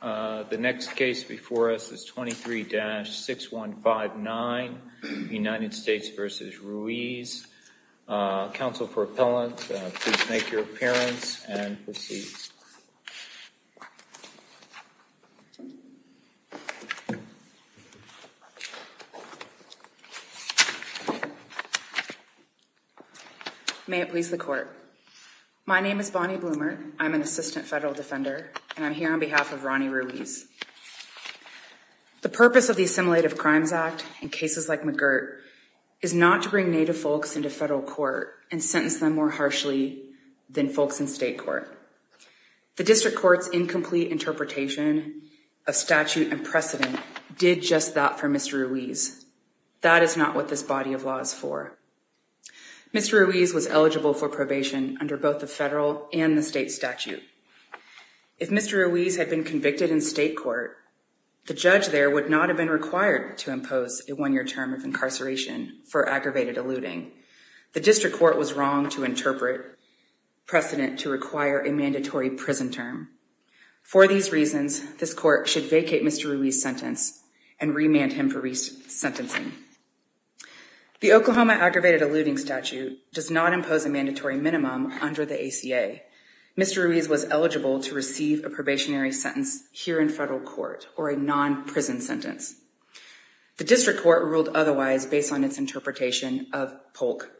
The next case before us is 23-6159, United States v. Ruiz. Counsel for appellant, please make your appearance and proceed. My name is Bonnie Bloomer. I'm an assistant federal defender, and I'm here on behalf of Ronnie Ruiz. The purpose of the Assimilative Crimes Act in cases like McGirt is not to bring Native folks into federal court and sentence them more harshly than folks in state court. The district court's incomplete interpretation of statute and precedent did just that for Mr. Ruiz. That is not what this body of law is for. Mr. Ruiz was eligible for probation under both the federal and the state statute. If Mr. Ruiz had been convicted in state court, the judge there would not have been required to impose a one-year term of incarceration for aggravated eluding. The district court was wrong to interpret precedent to require a mandatory prison term. For these reasons, this court should vacate Mr. Ruiz's sentence and remand him for resentencing. The Oklahoma aggravated eluding statute does not impose a mandatory minimum under the ACA. Mr. Ruiz was eligible to receive a probationary sentence here in federal court or a non-prison sentence. The district court ruled otherwise based on its interpretation of Polk,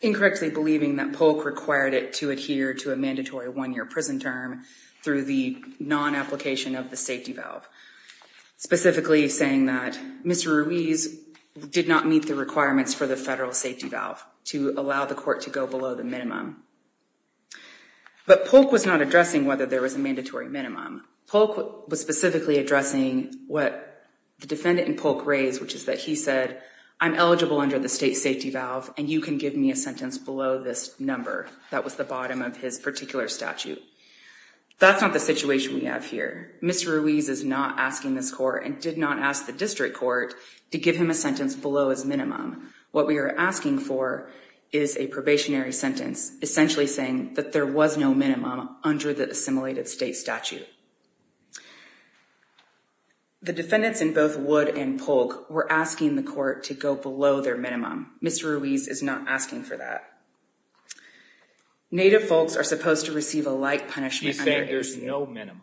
incorrectly believing that Polk required it to adhere to a mandatory one-year prison term through the non-application of the safety valve, specifically saying that Mr. Ruiz did not meet the requirements for the federal safety valve to allow the court to go below the minimum. But Polk was not addressing whether there was a mandatory minimum. Polk was specifically addressing what the defendant in Polk raised, which is that he said, I'm eligible under the state safety valve and you can give me a sentence below this number. That was the bottom of his particular statute. That's not the situation we have here. Mr. Ruiz is not asking this court and did not ask the district court to give him a sentence below his minimum. What we are asking for is a probationary sentence, essentially saying that there was no minimum under the assimilated state statute. The defendants in both Wood and Polk were asking the court to go below their minimum. Mr. Ruiz is not asking for that. Native folks are supposed to receive a light punishment under ACA. There is no minimum.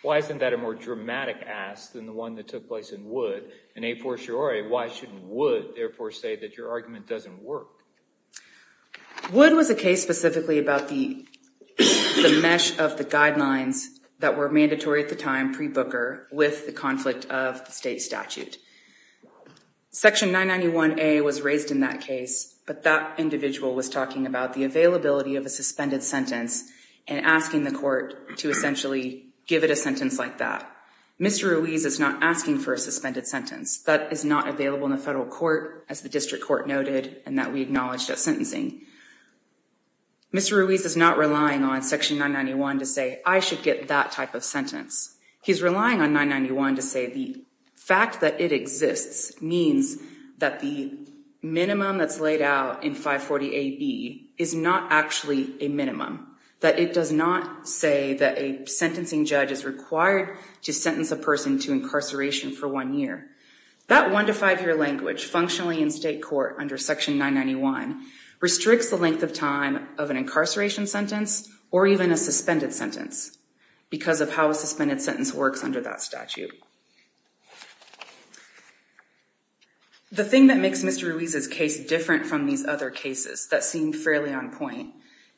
Why isn't that a more dramatic ask than the one that took place in Wood? In a fortiori, why shouldn't Wood therefore say that your argument doesn't work? Wood was a case specifically about the mesh of the guidelines that were mandatory at the time pre-Booker with the conflict of the state statute. Section 991A was raised in that case, but that individual was talking about the availability of a suspended sentence and asking the court to essentially give it a sentence like that. Mr. Ruiz is not asking for a suspended sentence. That is not available in the federal court, as the district court noted, and that we acknowledged at sentencing. Mr. Ruiz is not relying on section 991 to say, I should get that type of sentence. He's relying on 991 to say the fact that it exists means that the minimum that's laid out in 540AB is not actually a minimum, that it does not say that a sentencing judge is required to sentence a person to incarceration for one year. That one to five year language functionally in state court under section 991 restricts the length of time of an incarceration sentence or even a suspended sentence because of how a suspended sentence works under that statute. The thing that makes Mr. Ruiz's case different from these other cases that seem fairly on point,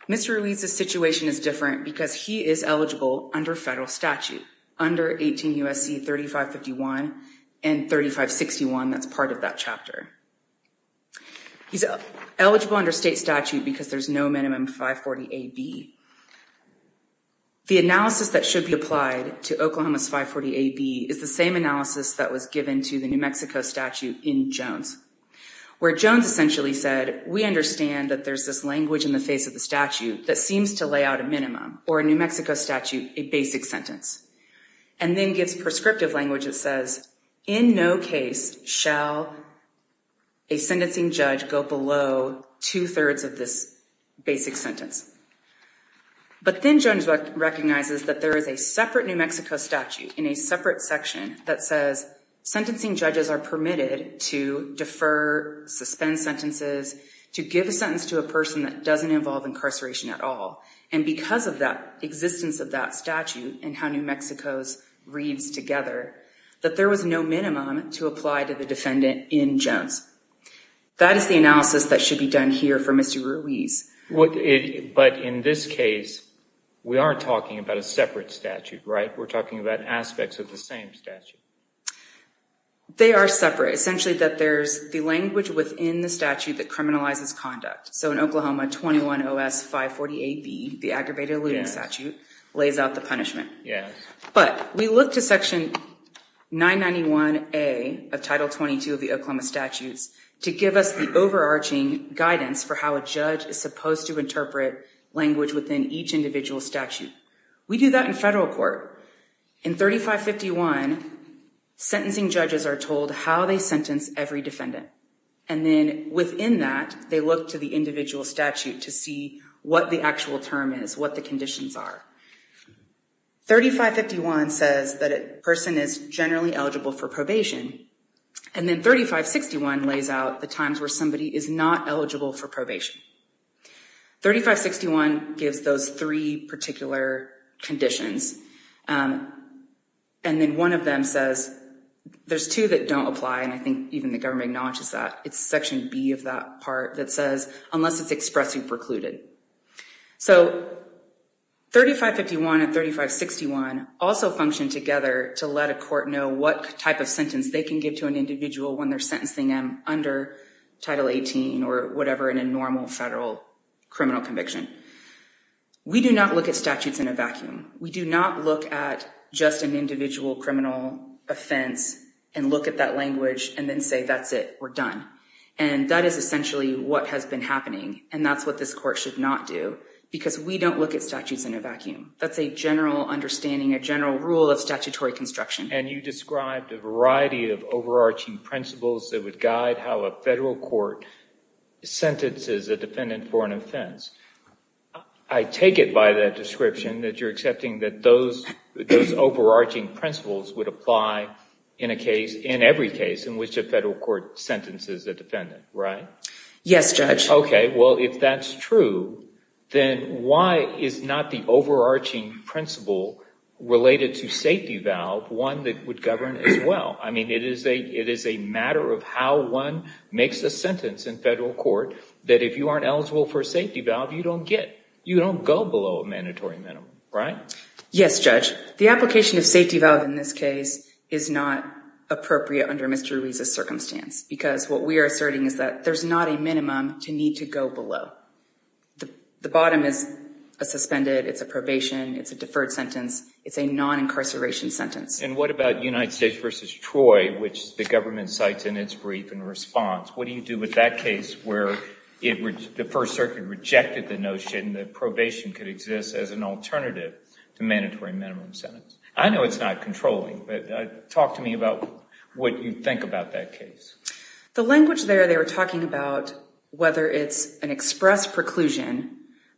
Mr. Ruiz's situation is different because he is eligible under federal statute under 18 U.S.C. 3551 and 3561. That's part of that chapter. He's eligible under state statute because there's no minimum 540AB. The analysis that should be applied to Oklahoma's 540AB is the same analysis that was given to the New Mexico statute in Jones, where Jones essentially said, we understand that there's this language in the face of the statute that seems to lay out a minimum or a New Mexico statute, a basic sentence, and then gives prescriptive language that says, in no case shall a sentencing judge go below two thirds of this basic sentence. But then Jones recognizes that there is a separate New Mexico statute in a separate section that says sentencing judges are permitted to defer, suspend sentences, to give a sentence to a person that doesn't involve incarceration at all. And because of that existence of that statute and how New Mexico's reads together, that there was no minimum to apply to the defendant in Jones. That is the analysis that should be done here for Mr. Ruiz. But in this case, we aren't talking about a separate statute, right? We're talking about aspects of the same statute. They are separate. Essentially, that there's the language within the statute that criminalizes conduct. So in Oklahoma, 21 OS 540AB, the aggravated looting statute, lays out the punishment. But we look to section 991A of Title 22 of the Oklahoma statutes to give us the overarching guidance for how a judge is supposed to interpret language within each individual statute. We do that in federal court. In 3551, sentencing judges are told how they sentence every defendant. And then within that, they look to the individual statute to see what the actual term is, what the conditions are. 3551 says that a person is generally eligible for probation. And then 3561 lays out the times where somebody is not eligible for probation. 3561 gives those three particular conditions. And then one of them says, there's two that don't apply, and I think even the government acknowledges that. It's section B of that part that says, unless it's expressly precluded. So 3551 and 3561 also function together to let a court know what type of sentence they can give to an individual when they're sentencing them under Title 18 or whatever in a normal federal criminal conviction. We do not look at statutes in a vacuum. We do not look at just an individual criminal offense and look at that language and then say, that's it, we're done. And that is essentially what has been happening, and that's what this court should not do, because we don't look at statutes in a vacuum. That's a general understanding, a general rule of statutory construction. And you described a variety of overarching principles that would guide how a federal court sentences a defendant for an offense. I take it by that description that you're accepting that those overarching principles would apply in a case, in every case, in which a federal court sentences a defendant, right? Yes, Judge. Okay. Well, if that's true, then why is not the overarching principle related to safety valve one that would govern as well? I mean, it is a matter of how one makes a sentence in federal court that if you aren't eligible for a safety valve, you don't get. You don't go below a mandatory minimum, right? Yes, Judge. The application of safety valve in this case is not appropriate under Mr. Ruiz's circumstance, because what we are asserting is that there's not a minimum to need to go below. The bottom is a suspended, it's a probation, it's a deferred sentence, it's a non-incarceration sentence. And what about United States v. Troy, which the government cites in its brief in response? What do you do with that case where the First Circuit rejected the notion that probation could exist as an alternative to mandatory minimum sentence? I know it's not controlling, but talk to me about what you think about that case. The language there, they were talking about whether it's an express preclusion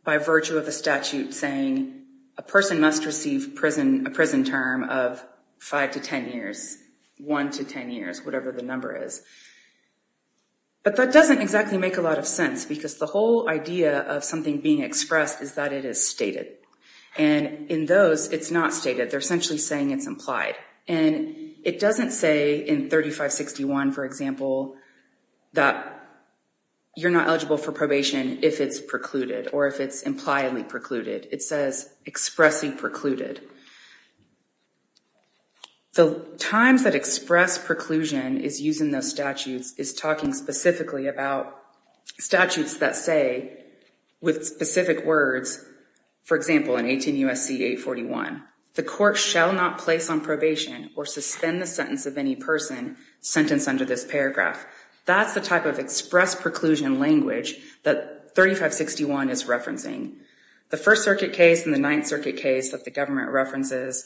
by virtue of a statute saying a person must receive a prison term of 5 to 10 years, 1 to 10 years, whatever the number is. But that doesn't exactly make a lot of sense, because the whole idea of something being expressed is that it is stated. And in those, it's not stated. And it doesn't say in 3561, for example, that you're not eligible for probation if it's precluded or if it's impliedly precluded. It says expressly precluded. The times that express preclusion is used in those statutes is talking specifically about statutes that say with specific words, for example, in 18 U.S.C. 841, the court shall not place on probation or suspend the sentence of any person sentenced under this paragraph. That's the type of express preclusion language that 3561 is referencing. The First Circuit case and the Ninth Circuit case that the government references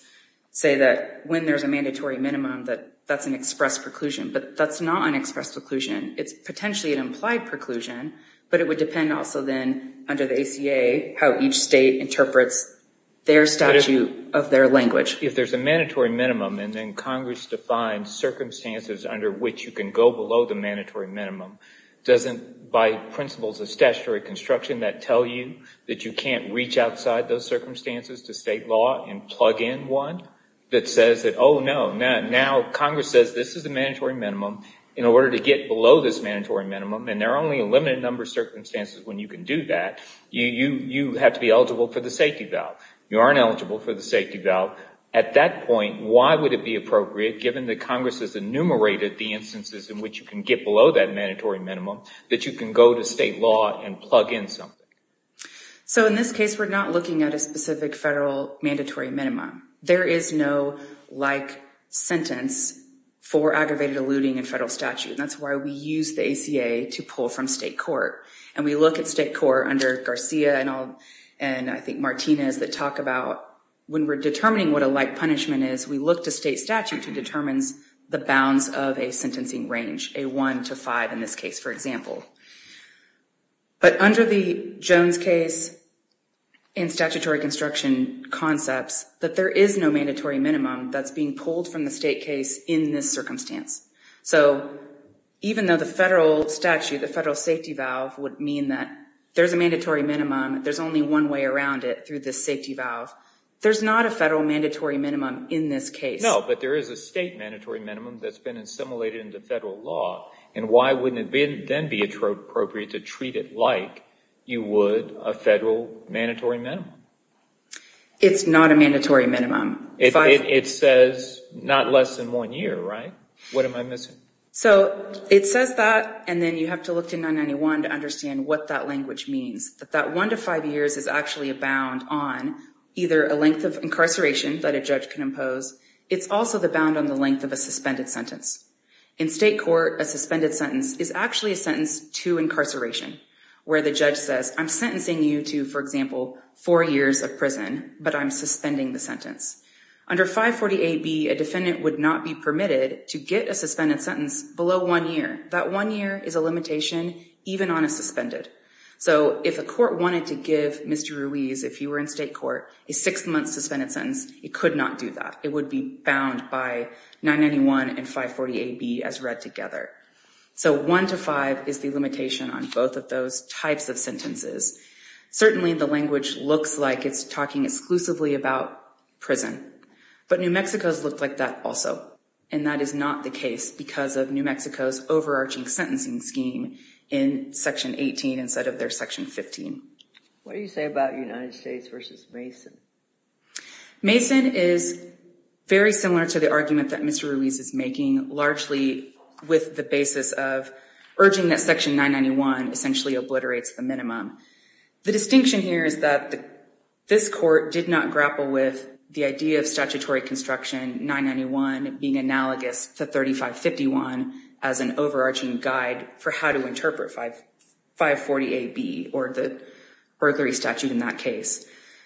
say that when there's a mandatory minimum, that that's an express preclusion. But that's not an express preclusion. It's potentially an implied preclusion. But it would depend also then under the ACA how each state interprets their statute of their language. If there's a mandatory minimum and then Congress defines circumstances under which you can go below the mandatory minimum, doesn't by principles of statutory construction that tell you that you can't reach outside those circumstances to state law and plug in one that says that, oh, no, now Congress says this is a mandatory minimum in order to get below this mandatory minimum. And there are only a limited number of circumstances when you can do that. You have to be eligible for the safety valve. You aren't eligible for the safety valve. At that point, why would it be appropriate, given that Congress has enumerated the instances in which you can get below that mandatory minimum, that you can go to state law and plug in something? So in this case, we're not looking at a specific federal mandatory minimum. There is no like sentence for aggravated eluding in federal statute. And that's why we use the ACA to pull from state court. And we look at state court under Garcia and I think Martinez that talk about when we're determining what a like punishment is, we look to state statute who determines the bounds of a sentencing range, a 1 to 5 in this case, for example. But under the Jones case and statutory construction concepts, that there is no mandatory minimum that's being pulled from the state case in this circumstance. So even though the federal statute, the federal safety valve would mean that there's a mandatory minimum, there's only one way around it through the safety valve. There's not a federal mandatory minimum in this case. No, but there is a state mandatory minimum that's been assimilated into federal law. And why wouldn't it then be appropriate to treat it like you would a federal mandatory minimum? It's not a mandatory minimum. It says not less than one year, right? What am I missing? So it says that and then you have to look to 991 to understand what that language means. That 1 to 5 years is actually a bound on either a length of incarceration that a judge can impose. It's also the bound on the length of a suspended sentence. In state court, a suspended sentence is actually a sentence to incarceration where the judge says, I'm sentencing you to, for example, four years of prison, but I'm suspending the sentence. Under 548B, a defendant would not be permitted to get a suspended sentence below one year. That one year is a limitation even on a suspended. So if a court wanted to give Mr. Ruiz, if he were in state court, a six-month suspended sentence, it could not do that. It would be bound by 991 and 548B as read together. So 1 to 5 is the limitation on both of those types of sentences. Certainly the language looks like it's talking exclusively about prison, but New Mexico's looked like that also. And that is not the case because of New Mexico's overarching sentencing scheme in Section 18 instead of their Section 15. What do you say about United States versus Mason? Mason is very similar to the argument that Mr. Ruiz is making, largely with the basis of urging that Section 991 essentially obliterates the minimum. The distinction here is that this court did not grapple with the idea of statutory construction, 991 being analogous to 3551 as an overarching guide for how to interpret 548B or the burglary statute in that case.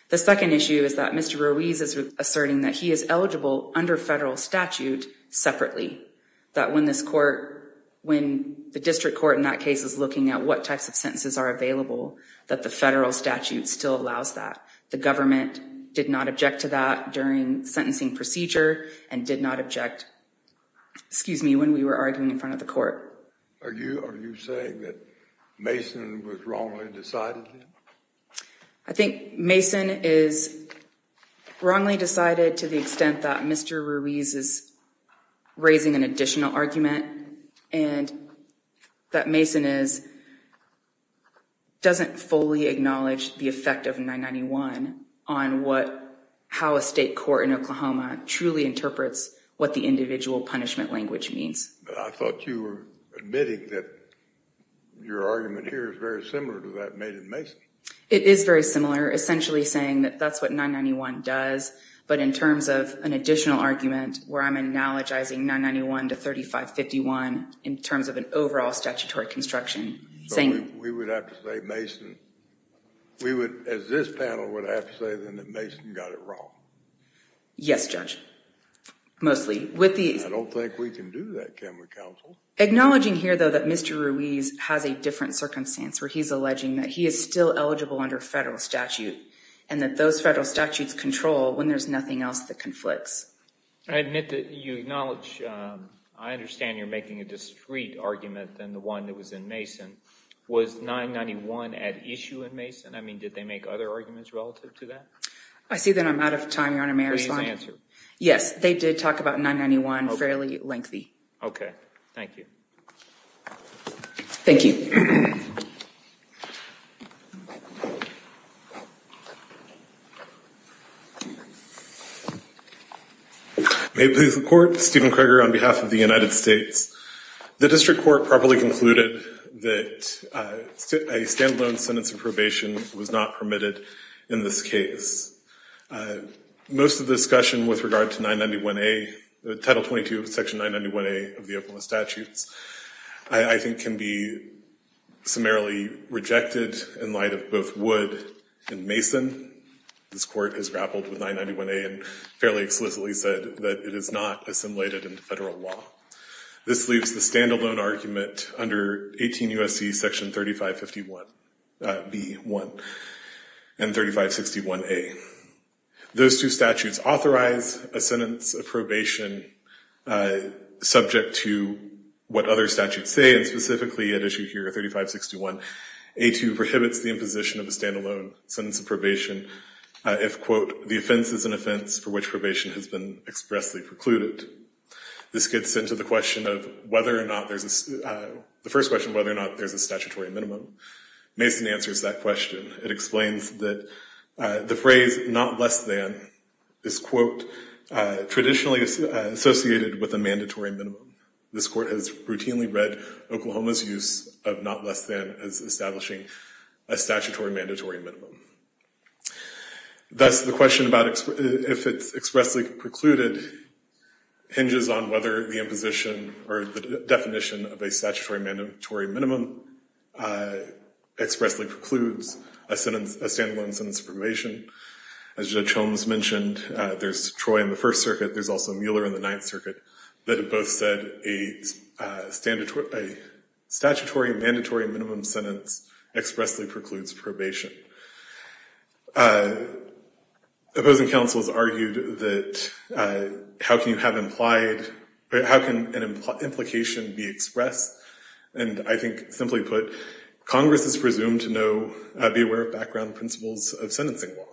The second issue is that Mr. Ruiz is asserting that he is eligible under federal statute separately, that when the district court in that case is looking at what types of sentences are available, that the federal statute still allows that. The government did not object to that during sentencing procedure and did not object when we were arguing in front of the court. Are you saying that Mason was wrongly decided then? I think Mason is wrongly decided to the extent that Mr. Ruiz is raising an additional argument and that Mason doesn't fully acknowledge the effect of 991 on how a state court in Oklahoma truly interprets what the individual punishment language means. I thought you were admitting that your argument here is very similar to that made in Mason. It is very similar, essentially saying that that's what 991 does, but in terms of an additional argument where I'm analogizing 991 to 3551 in terms of an overall statutory construction. So we would have to say Mason, we would, as this panel, would have to say then that Mason got it wrong. Yes, Judge, mostly. I don't think we can do that, can we, counsel? Acknowledging here, though, that Mr. Ruiz has a different circumstance where he's alleging that he is still eligible under federal statute and that those federal statutes control when there's nothing else that conflicts. I admit that you acknowledge, I understand you're making a discrete argument than the one that was in Mason. Was 991 at issue in Mason? I mean, did they make other arguments relative to that? I see that I'm out of time, Your Honor, may I respond? Please answer. Yes, they did talk about 991 fairly lengthy. Okay, thank you. Thank you. May it please the Court, Stephen Kreger on behalf of the United States. The district court properly concluded that a stand-alone sentence of probation was not permitted in this case. Most of the discussion with regard to Title 22 of Section 991A of the Open Law Statutes I think can be summarily rejected in light of both Wood and Mason. This Court has grappled with 991A and fairly explicitly said that it is not assimilated into federal law. This leaves the stand-alone argument under 18 U.S.C. Section 3551B1 and 3561A. Those two statutes authorize a sentence of probation subject to what other statutes say and specifically at issue here 3561A2 prohibits the imposition of a stand-alone sentence of probation if, quote, the offense is an offense for which probation has been expressly precluded. This gets into the question of whether or not there's a statutory minimum. Mason answers that question. It explains that the phrase not less than is, quote, traditionally associated with a mandatory minimum. This Court has routinely read Oklahoma's use of not less than as establishing a statutory mandatory minimum. Thus, the question about if it's expressly precluded hinges on whether the imposition or the definition of a statutory mandatory minimum expressly precludes a stand-alone sentence of probation. As Judge Holmes mentioned, there's Troy in the First Circuit. There's also Mueller in the Ninth Circuit that have both said a statutory mandatory minimum sentence expressly precludes probation. Opposing counsels argued that how can you have implied, how can an implication be expressed? And I think simply put, Congress is presumed to know, be aware of background principles of sentencing law.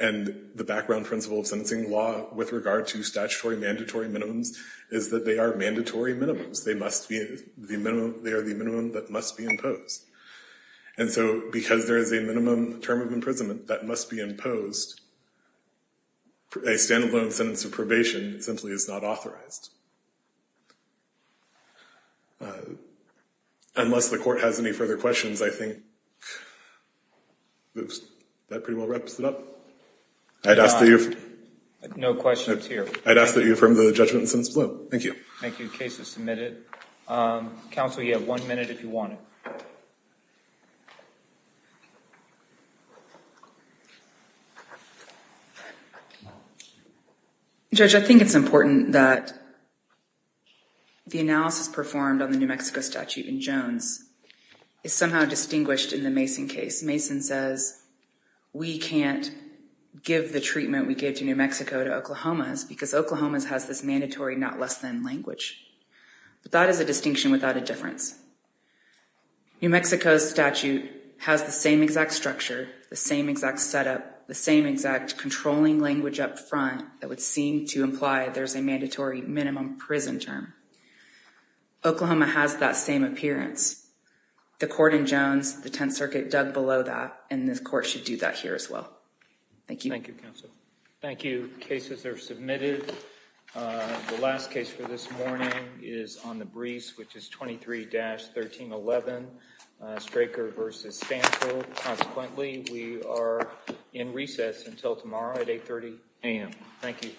And the background principles of sentencing law with regard to statutory mandatory minimums is that they are mandatory minimums. They are the minimum that must be imposed. And so because there is a minimum term of imprisonment that must be imposed, a stand-alone sentence of probation simply is not authorized. Unless the Court has any further questions, I think that pretty well wraps it up. I'd ask that you affirm the judgment and sentence below. Thank you. Thank you. The case is submitted. Counsel, you have one minute if you want it. Judge, I think it's important that the analysis performed on the New Mexico statute in Jones is somehow distinguished in the Mason case. Mason says, we can't give the treatment we gave to New Mexico to Oklahoma because Oklahoma has this mandatory not less than language. But that is a distinction without a difference. New Mexico's statute has the same exact structure, the same exact setup, the same exact controlling language up front that would seem to imply there's a mandatory minimum prison term. Oklahoma has that same appearance. The Court in Jones, the Tenth Circuit dug below that, and this Court should do that here as well. Thank you. Thank you, counsel. Thank you. Cases are submitted. The last case for this morning is on the Brees, which is 23-1311, Straker v. Stanford. Consequently, we are in recess until tomorrow at 8.30 a.m. Thank you.